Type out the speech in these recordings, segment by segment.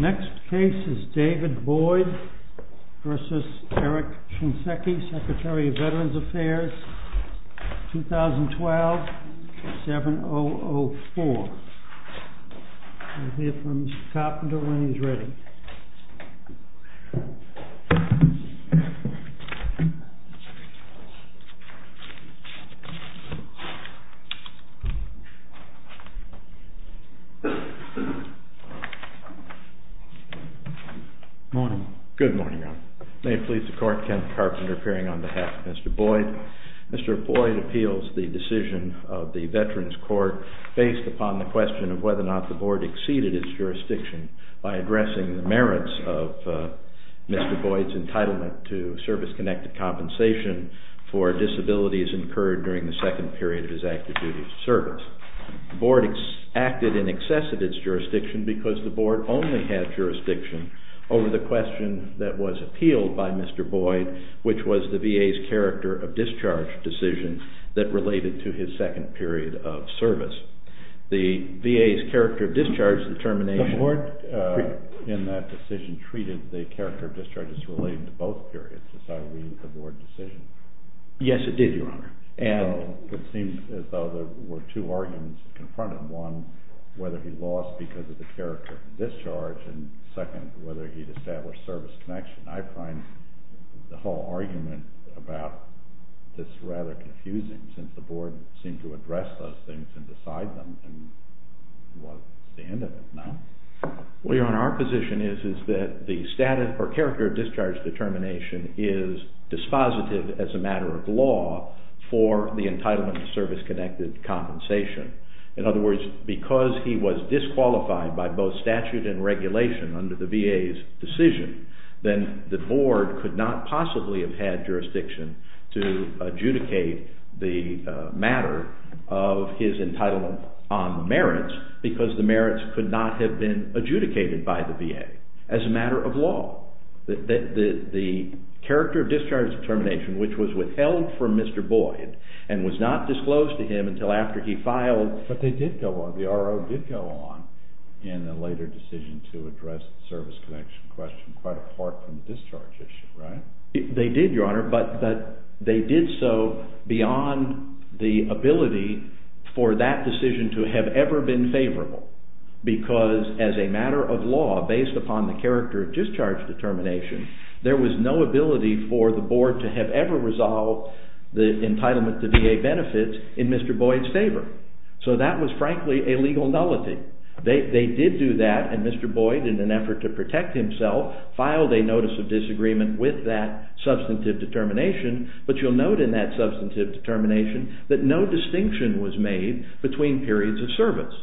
Next case is David Boyd v. Eric Shinseki, Secretary of Veterans Affairs, 2012, 7004. We'll hear from Mr. Carpenter when he's ready. Good morning. May it please the Court, Kent Carpenter appearing on behalf of Mr. Boyd. Mr. Boyd appeals the decision of the Veterans Court based upon the question of whether or not the Board exceeded its jurisdiction by addressing the merits of Mr. Boyd's entitlement to service-connected compensation for disabilities incurred during the second period of his active duty of service. The Board acted in excess of its jurisdiction because the Board only had jurisdiction over the question that was appealed by Mr. Boyd, which was the VA's character of discharge decision that related to his second period of service. The VA's character of discharge determination… The Board, in that decision, treated the character of discharge as relating to both periods, as I read the Board decision. It seems as though there were two arguments confronted. One, whether he lost because of the character of discharge, and second, whether he'd established service connection. I find the whole argument about this rather confusing, since the Board seemed to address those things and decide them, and it was the end of it, no? Well, Your Honor, our position is that the character of discharge determination is dispositive as a matter of law for the entitlement to service-connected compensation. In other words, because he was disqualified by both statute and regulation under the VA's decision, then the Board could not possibly have had jurisdiction to adjudicate the matter of his entitlement on the merits because the merits could not have been adjudicated by the VA as a matter of law. The character of discharge determination, which was withheld from Mr. Boyd and was not disclosed to him until after he filed… But they did go on. The RO did go on in a later decision to address the service connection question, quite apart from the discharge issue, right? They did, Your Honor, but they did so beyond the ability for that decision to have ever been favorable, because as a matter of law, based upon the character of discharge determination, there was no ability for the Board to have ever resolved the entitlement to VA benefits in Mr. Boyd's favor. So that was, frankly, a legal nullity. They did do that, and Mr. Boyd, in an effort to protect himself, filed a notice of disagreement with that substantive determination, but you'll note in that substantive determination that no distinction was made between periods of service,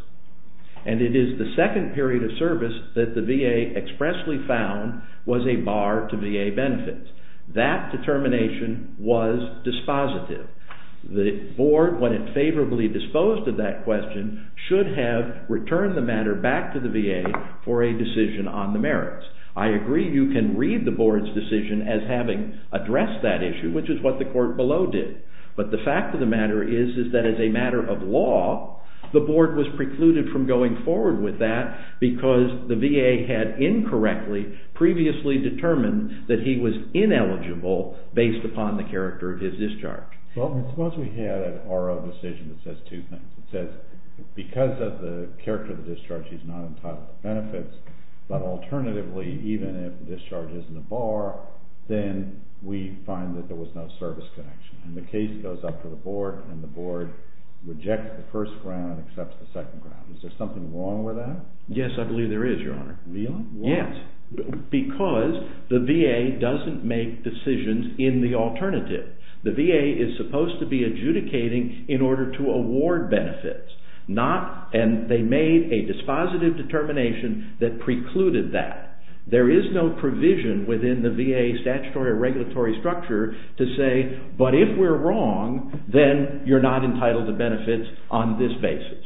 and it is the second period of service that the VA expressly found was a bar to VA benefits. That determination was dispositive. The Board, when it favorably disposed of that question, should have returned the matter back to the VA for a decision on the merits. I agree you can read the Board's decision as having addressed that issue, which is what the court below did, but the fact of the matter is that as a matter of law, the Board was precluded from going forward with that because the VA had incorrectly, previously determined that he was ineligible based upon the character of his discharge. Well, suppose we had an RO decision that says two things. It says because of the character of the discharge, he's not entitled to benefits, but alternatively, even if the discharge isn't a bar, then we find that there was no service connection, and the case goes up to the Board, and the Board rejects the first ground and accepts the second ground. Is there something wrong with that? Yes, I believe there is, Your Honor. Really? Why? Because the VA doesn't make decisions in the alternative. The VA is supposed to be adjudicating in order to award benefits, and they made a dispositive determination that precluded that. There is no provision within the VA statutory or regulatory structure to say, but if we're wrong, then you're not entitled to benefits on this basis.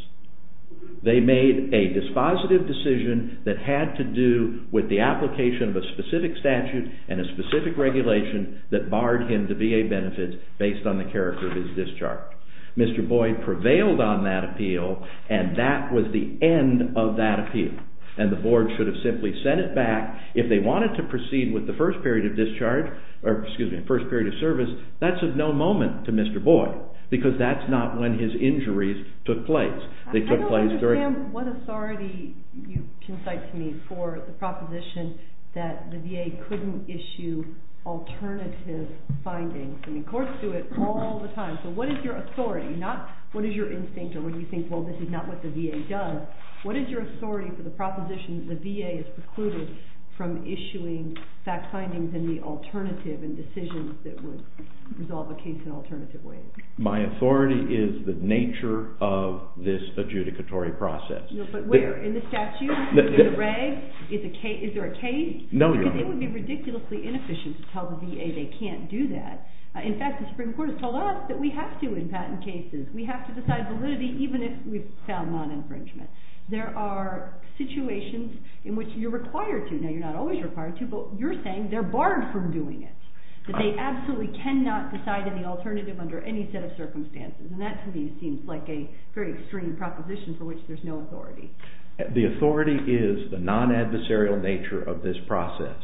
They made a dispositive decision that had to do with the application of a specific statute and a specific regulation that barred him to VA benefits based on the character of his discharge. Mr. Boyd prevailed on that appeal, and that was the end of that appeal, and the Board should have simply sent it back. If they wanted to proceed with the first period of service, that's of no moment to Mr. Boyd, because that's not when his injuries took place. I don't understand what authority you can cite to me for the proposition that the VA couldn't issue alternative findings. I mean, courts do it all the time, so what is your authority? Not what is your instinct or when you think, well, this is not what the VA does. What is your authority for the proposition that the VA is precluded from issuing fact findings in the alternative and decisions that would resolve a case in an alternative way? My authority is the nature of this adjudicatory process. But where? In the statute? In the regs? Is there a case? No, Your Honor. They would be ridiculously inefficient to tell the VA they can't do that. In fact, the Supreme Court has told us that we have to in patent cases. We have to decide validity even if we've found non-infringement. There are situations in which you're required to. Now, you're not always required to, but you're saying they're barred from doing it, that they absolutely cannot decide in the alternative under any set of circumstances, and that to me seems like a very extreme proposition for which there's no authority. The authority is the non-adversarial nature of this process.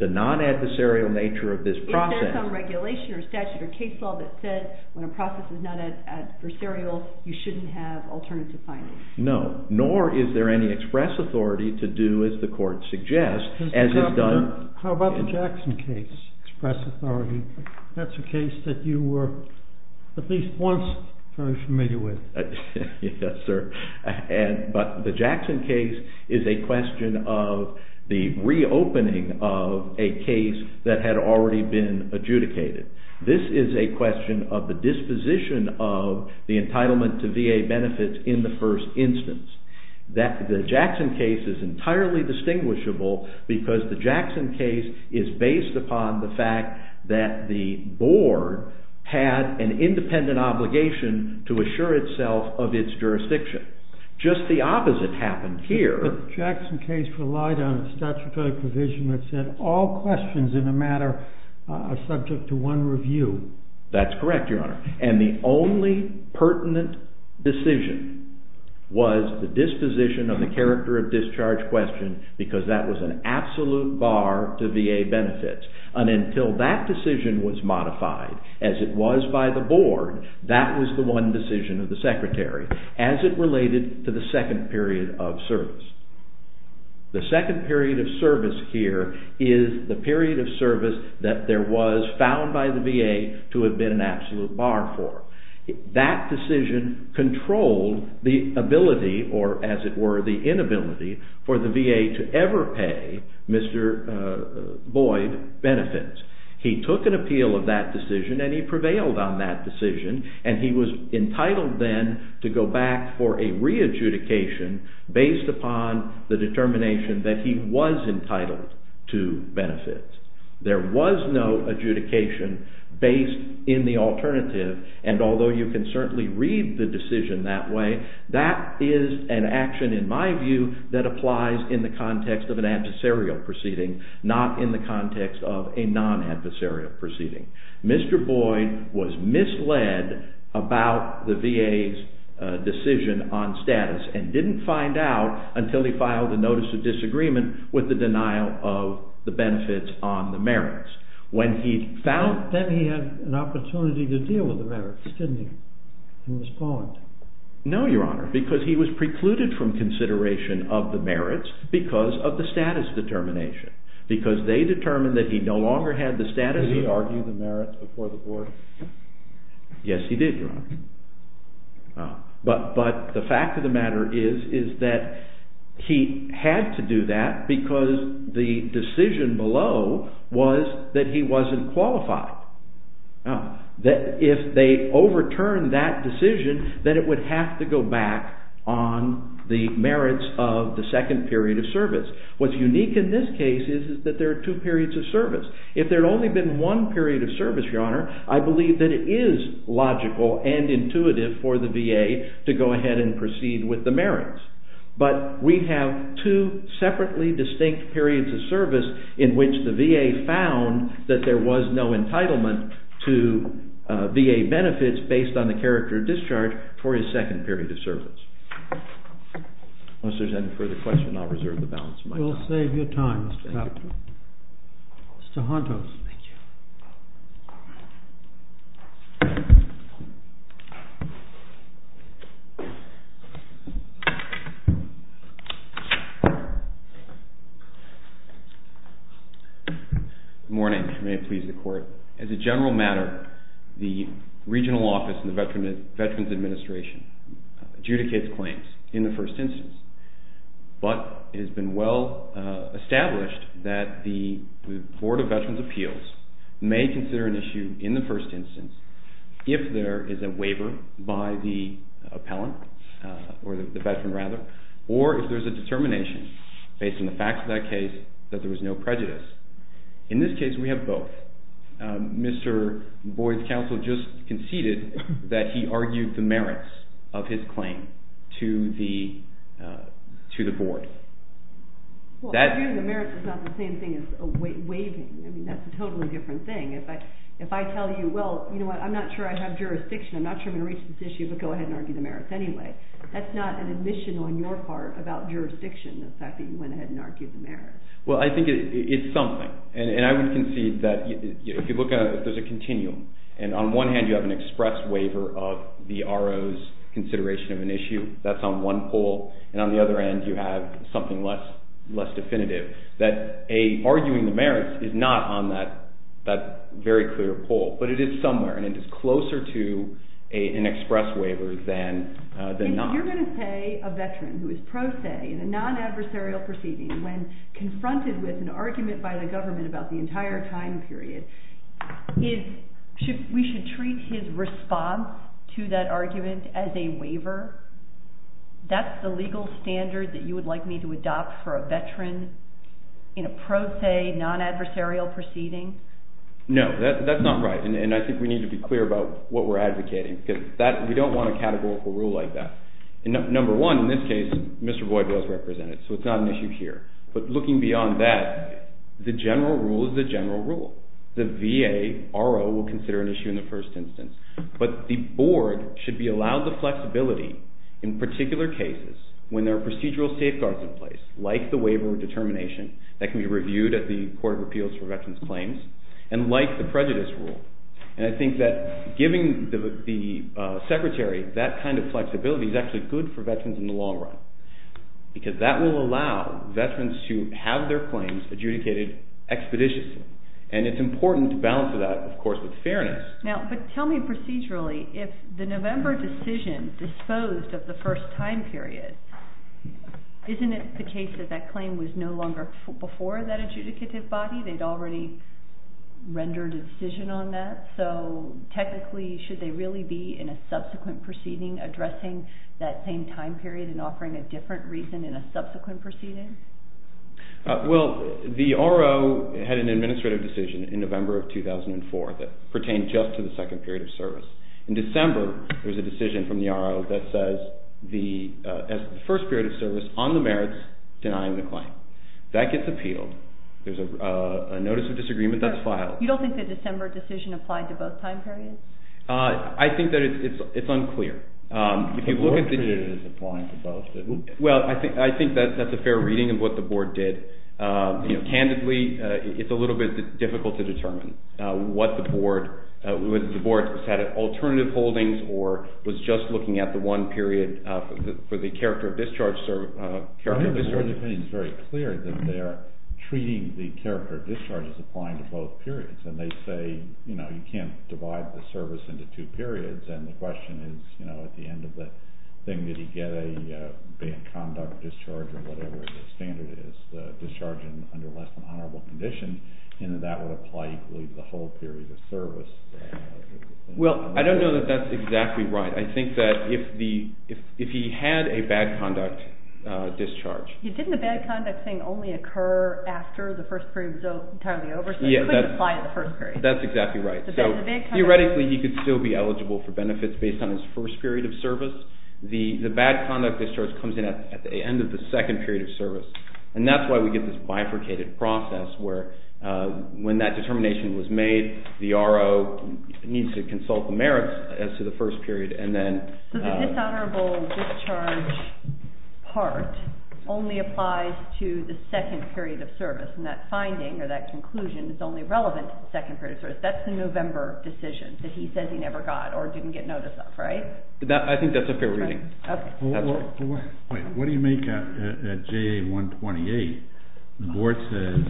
The non-adversarial nature of this process— Is there some regulation or statute or case law that says when a process is not adversarial, you shouldn't have alternative findings? No, nor is there any express authority to do as the court suggests, as is done— How about the Jackson case, express authority? That's a case that you were at least once very familiar with. Yes, sir. But the Jackson case is a question of the reopening of a case that had already been adjudicated. This is a question of the disposition of the entitlement to VA benefits in the first instance. The Jackson case is entirely distinguishable because the Jackson case is based upon the fact that the board had an independent obligation to assure itself of its jurisdiction. Just the opposite happened here— The Jackson case relied on a statutory provision that said all questions in a matter are subject to one review. That's correct, your honor. And the only pertinent decision was the disposition of the character of discharge question because that was an absolute bar to VA benefits. And until that decision was modified, as it was by the board, that was the one decision of the secretary, as it related to the second period of service. The second period of service here is the period of service that there was found by the VA to have been an absolute bar for. That decision controlled the ability, or as it were the inability, for the VA to ever pay Mr. Boyd benefits. He took an appeal of that decision and he prevailed on that decision and he was entitled then to go back for a re-adjudication based upon the determination that he was entitled to benefits. There was no adjudication based in the alternative and although you can certainly read the decision that way, that is an action in my view that applies in the context of an adversarial proceeding, not in the context of a non-adversarial proceeding. Mr. Boyd was misled about the VA's decision on status and didn't find out until he filed a notice of disagreement with the denial of the benefits on the merits. When he found... Then he had an opportunity to deal with the merits, didn't he, in this point? No, Your Honor, because he was precluded from consideration of the merits because of the status determination. Because they determined that he no longer had the status... Did he argue the merits before the board? Yes, he did, Your Honor. But the fact of the matter is that he had to do that because the decision below was that he wasn't qualified. If they overturned that decision, then it would have to go back on the merits of the second period of service. What's unique in this case is that there are two periods of service. If there had only been one period of service, Your Honor, I believe that it is logical and intuitive for the VA to go ahead and proceed with the merits. But we have two separately distinct periods of service in which the VA found that there was no entitlement to VA benefits based on the character of discharge for his second period of service. If there's any further questions, I'll reserve the balance of my time. We'll save your time, Mr. Kaplan. Thank you. Thank you. Good morning. May it please the Court. As a general matter, the regional office in the Veterans Administration adjudicates claims in the first instance. But it has been well established that the Board of Veterans' Appeals may consider an issue in the first instance if there is a waiver by the appellant, or the veteran rather, or if there's a determination based on the facts of that case that there was no prejudice. In this case, we have both. Mr. Boyd's counsel just conceded that he argued the merits of his claim to the Board. Well, arguing the merits is not the same thing as waiving. I mean, that's a totally different thing. If I tell you, well, you know what, I'm not sure I have jurisdiction. I'm not sure I'm going to reach this issue, but go ahead and argue the merits anyway. That's not an admission on your part about jurisdiction, the fact that you went ahead and argued the merits. Well, I think it's something. And I would concede that if you look at it, there's a continuum. And on one hand, you have an express waiver of the RO's consideration of an issue. That's on one pole. And on the other end, you have something less definitive, that arguing the merits is not on that very clear pole. But it is somewhere, and it is closer to an express waiver than not. So you're going to say a veteran who is pro se in a non-adversarial proceeding, when confronted with an argument by the government about the entire time period, we should treat his response to that argument as a waiver? That's the legal standard that you would like me to adopt for a veteran in a pro se, non-adversarial proceeding? No, that's not right. And I think we need to be clear about what we're advocating, because we don't want a categorical rule like that. Number one, in this case, Mr. Voidwell is represented, so it's not an issue here. But looking beyond that, the general rule is the general rule. The VA RO will consider an issue in the first instance. But the board should be allowed the flexibility in particular cases when there are procedural safeguards in place, like the waiver of determination that can be reviewed at the Court of Appeals for Veterans Claims, and like the prejudice rule. And I think that giving the Secretary that kind of flexibility is actually good for veterans in the long run, because that will allow veterans to have their claims adjudicated expeditiously. And it's important to balance that, of course, with fairness. Now, but tell me procedurally, if the November decision disposed of the first time period, isn't it the case that that claim was no longer before that adjudicative body? They'd already rendered a decision on that. So technically, should they really be in a subsequent proceeding addressing that same time period and offering a different reason in a subsequent proceeding? Well, the RO had an administrative decision in November of 2004 that pertained just to the second period of service. In December, there's a decision from the RO that says the first period of service on the merits denying the claim. That gets appealed. There's a notice of disagreement that's filed. You don't think the December decision applied to both time periods? I think that it's unclear. The board period is applying to both. Well, I think that's a fair reading of what the board did. Candidly, it's a little bit difficult to determine what the board, whether the board has had alternative holdings or was just looking at the one period for the character of discharge. I think the board's opinion is very clear that they're treating the character of discharge as applying to both periods. And they say, you know, you can't divide the service into two periods. And the question is, you know, at the end of the thing, did he get a bad conduct discharge or whatever the standard is, the discharge under less than honorable condition, and that would apply equally to the whole period of service. Well, I don't know that that's exactly right. I think that if he had a bad conduct discharge. Didn't the bad conduct thing only occur after the first period was entirely over? So it couldn't apply to the first period. That's exactly right. Theoretically, he could still be eligible for benefits based on his first period of service. The bad conduct discharge comes in at the end of the second period of service. And that's why we get this bifurcated process where when that determination was made, the RO needs to consult the merits as to the first period. So the dishonorable discharge part only applies to the second period of service, and that finding or that conclusion is only relevant to the second period of service. That's the November decision that he says he never got or didn't get notice of, right? I think that's a fair reading. What do you make at JA-128? The board says,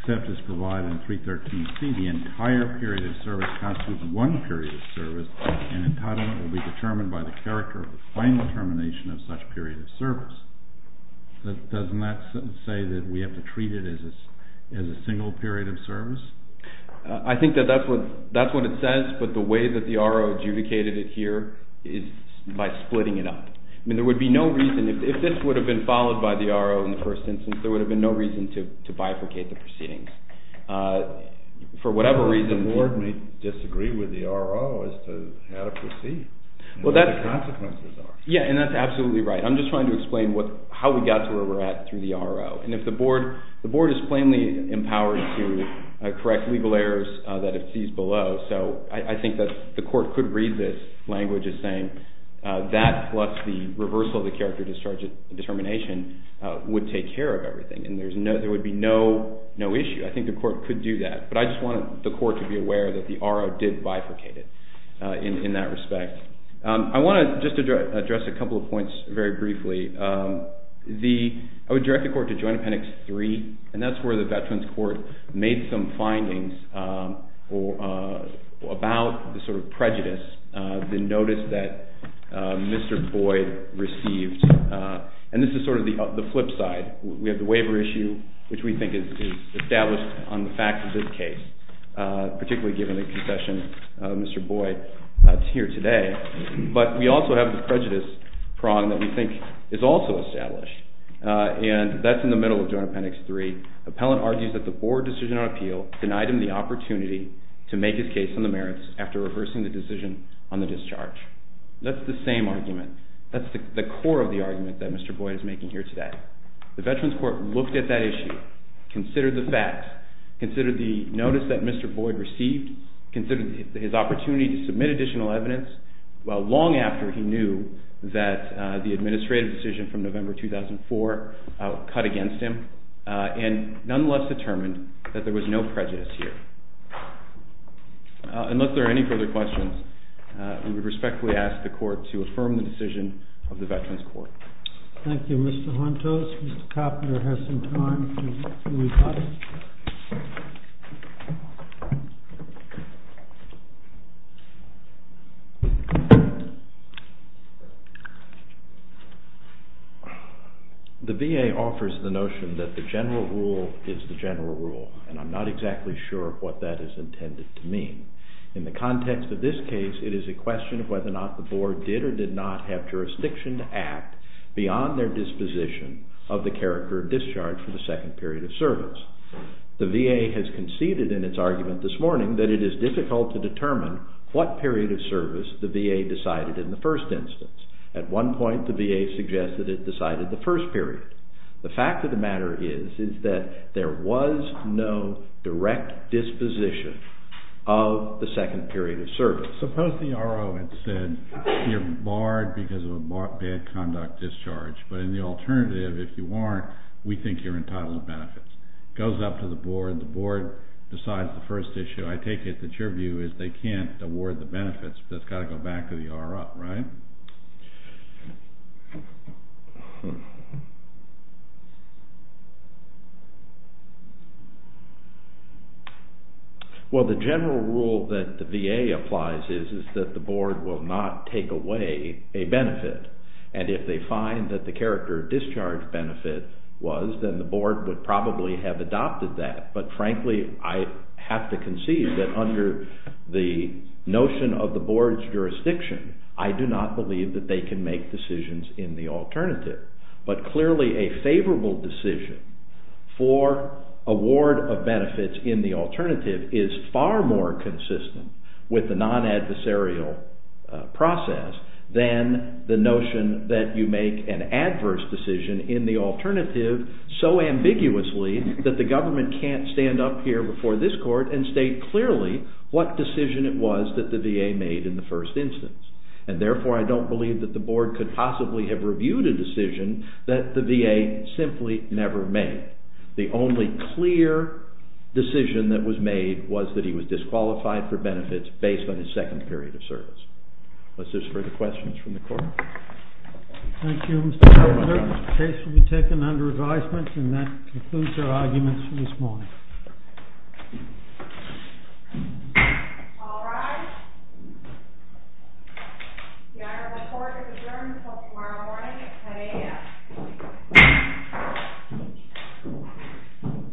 except as provided in 313C, the entire period of service constitutes one period of service, and entitlement will be determined by the character of the final determination of such period of service. Doesn't that say that we have to treat it as a single period of service? I think that that's what it says, but the way that the RO adjudicated it here is by splitting it up. I mean, there would be no reason, if this would have been followed by the RO in the first instance, there would have been no reason to bifurcate the proceedings. The board may disagree with the RO as to how to proceed and what the consequences are. Yeah, and that's absolutely right. I'm just trying to explain how we got to where we're at through the RO. And if the board is plainly empowered to correct legal errors that it sees below, so I think that the court could read this language as saying that plus the reversal of the character discharge determination would take care of everything, and there would be no issue. I think the court could do that, but I just wanted the court to be aware that the RO did bifurcate it in that respect. I want to just address a couple of points very briefly. I would direct the court to Joint Appendix 3, and that's where the Veterans Court made some findings about the sort of prejudice, the notice that Mr. Boyd received. And this is sort of the flip side. We have the waiver issue, which we think is established on the fact of this case, particularly given the concession Mr. Boyd is here today. But we also have the prejudice prong that we think is also established, and that's in the middle of Joint Appendix 3. Appellant argues that the board decision on appeal denied him the opportunity to make his case on the merits after reversing the decision on the discharge. That's the same argument. That's the core of the argument that Mr. Boyd is making here today. The Veterans Court looked at that issue, considered the fact, considered the notice that Mr. Boyd received, considered his opportunity to submit additional evidence, well, long after he knew that the administrative decision from November 2004 cut against him, and nonetheless determined that there was no prejudice here. Unless there are any further questions, we would respectfully ask the court to affirm the decision of the Veterans Court. Thank you, Mr. Hontos. Mr. Koppner has some time to reply. The VA offers the notion that the general rule is the general rule, and I'm not exactly sure what that is intended to mean. In the context of this case, it is a question of whether or not the board did or did not have jurisdiction to act beyond their disposition of the character of discharge for the second period of service. The VA has conceded in its argument this morning that it is difficult to determine what period of service the VA decided in the first instance. At one point, the VA suggested it decided the first period. The fact of the matter is that there was no direct disposition of the second period of service. Suppose the R.O. had said you're barred because of a bad conduct discharge, but in the alternative, if you aren't, we think you're entitled to benefits. It goes up to the board. The board decides the first issue. I take it that your view is they can't award the benefits, but it's got to go back to the R.O., right? Well, the general rule that the VA applies is that the board will not take away a benefit, and if they find that the character of discharge benefit was, then the board would probably have adopted that. But frankly, I have to concede that under the notion of the board's jurisdiction, I do not believe that they can make decisions in the alternative. But clearly, a favorable decision for award of benefits in the alternative is far more consistent with the non-adversarial process than the notion that you make an adverse decision in the alternative so ambiguously that the government can't stand up here before this court and state clearly what decision it was that the VA made in the first instance. And therefore, I don't believe that the board could possibly have reviewed a decision that the VA simply never made. The only clear decision that was made was that he was disqualified for benefits based on his second period of service. Unless there's further questions from the court. Thank you, Mr. Ponder. The case will be taken under advisement, and that concludes our arguments for this morning. All rise. The honorable court is adjourned until tomorrow morning at 10 a.m.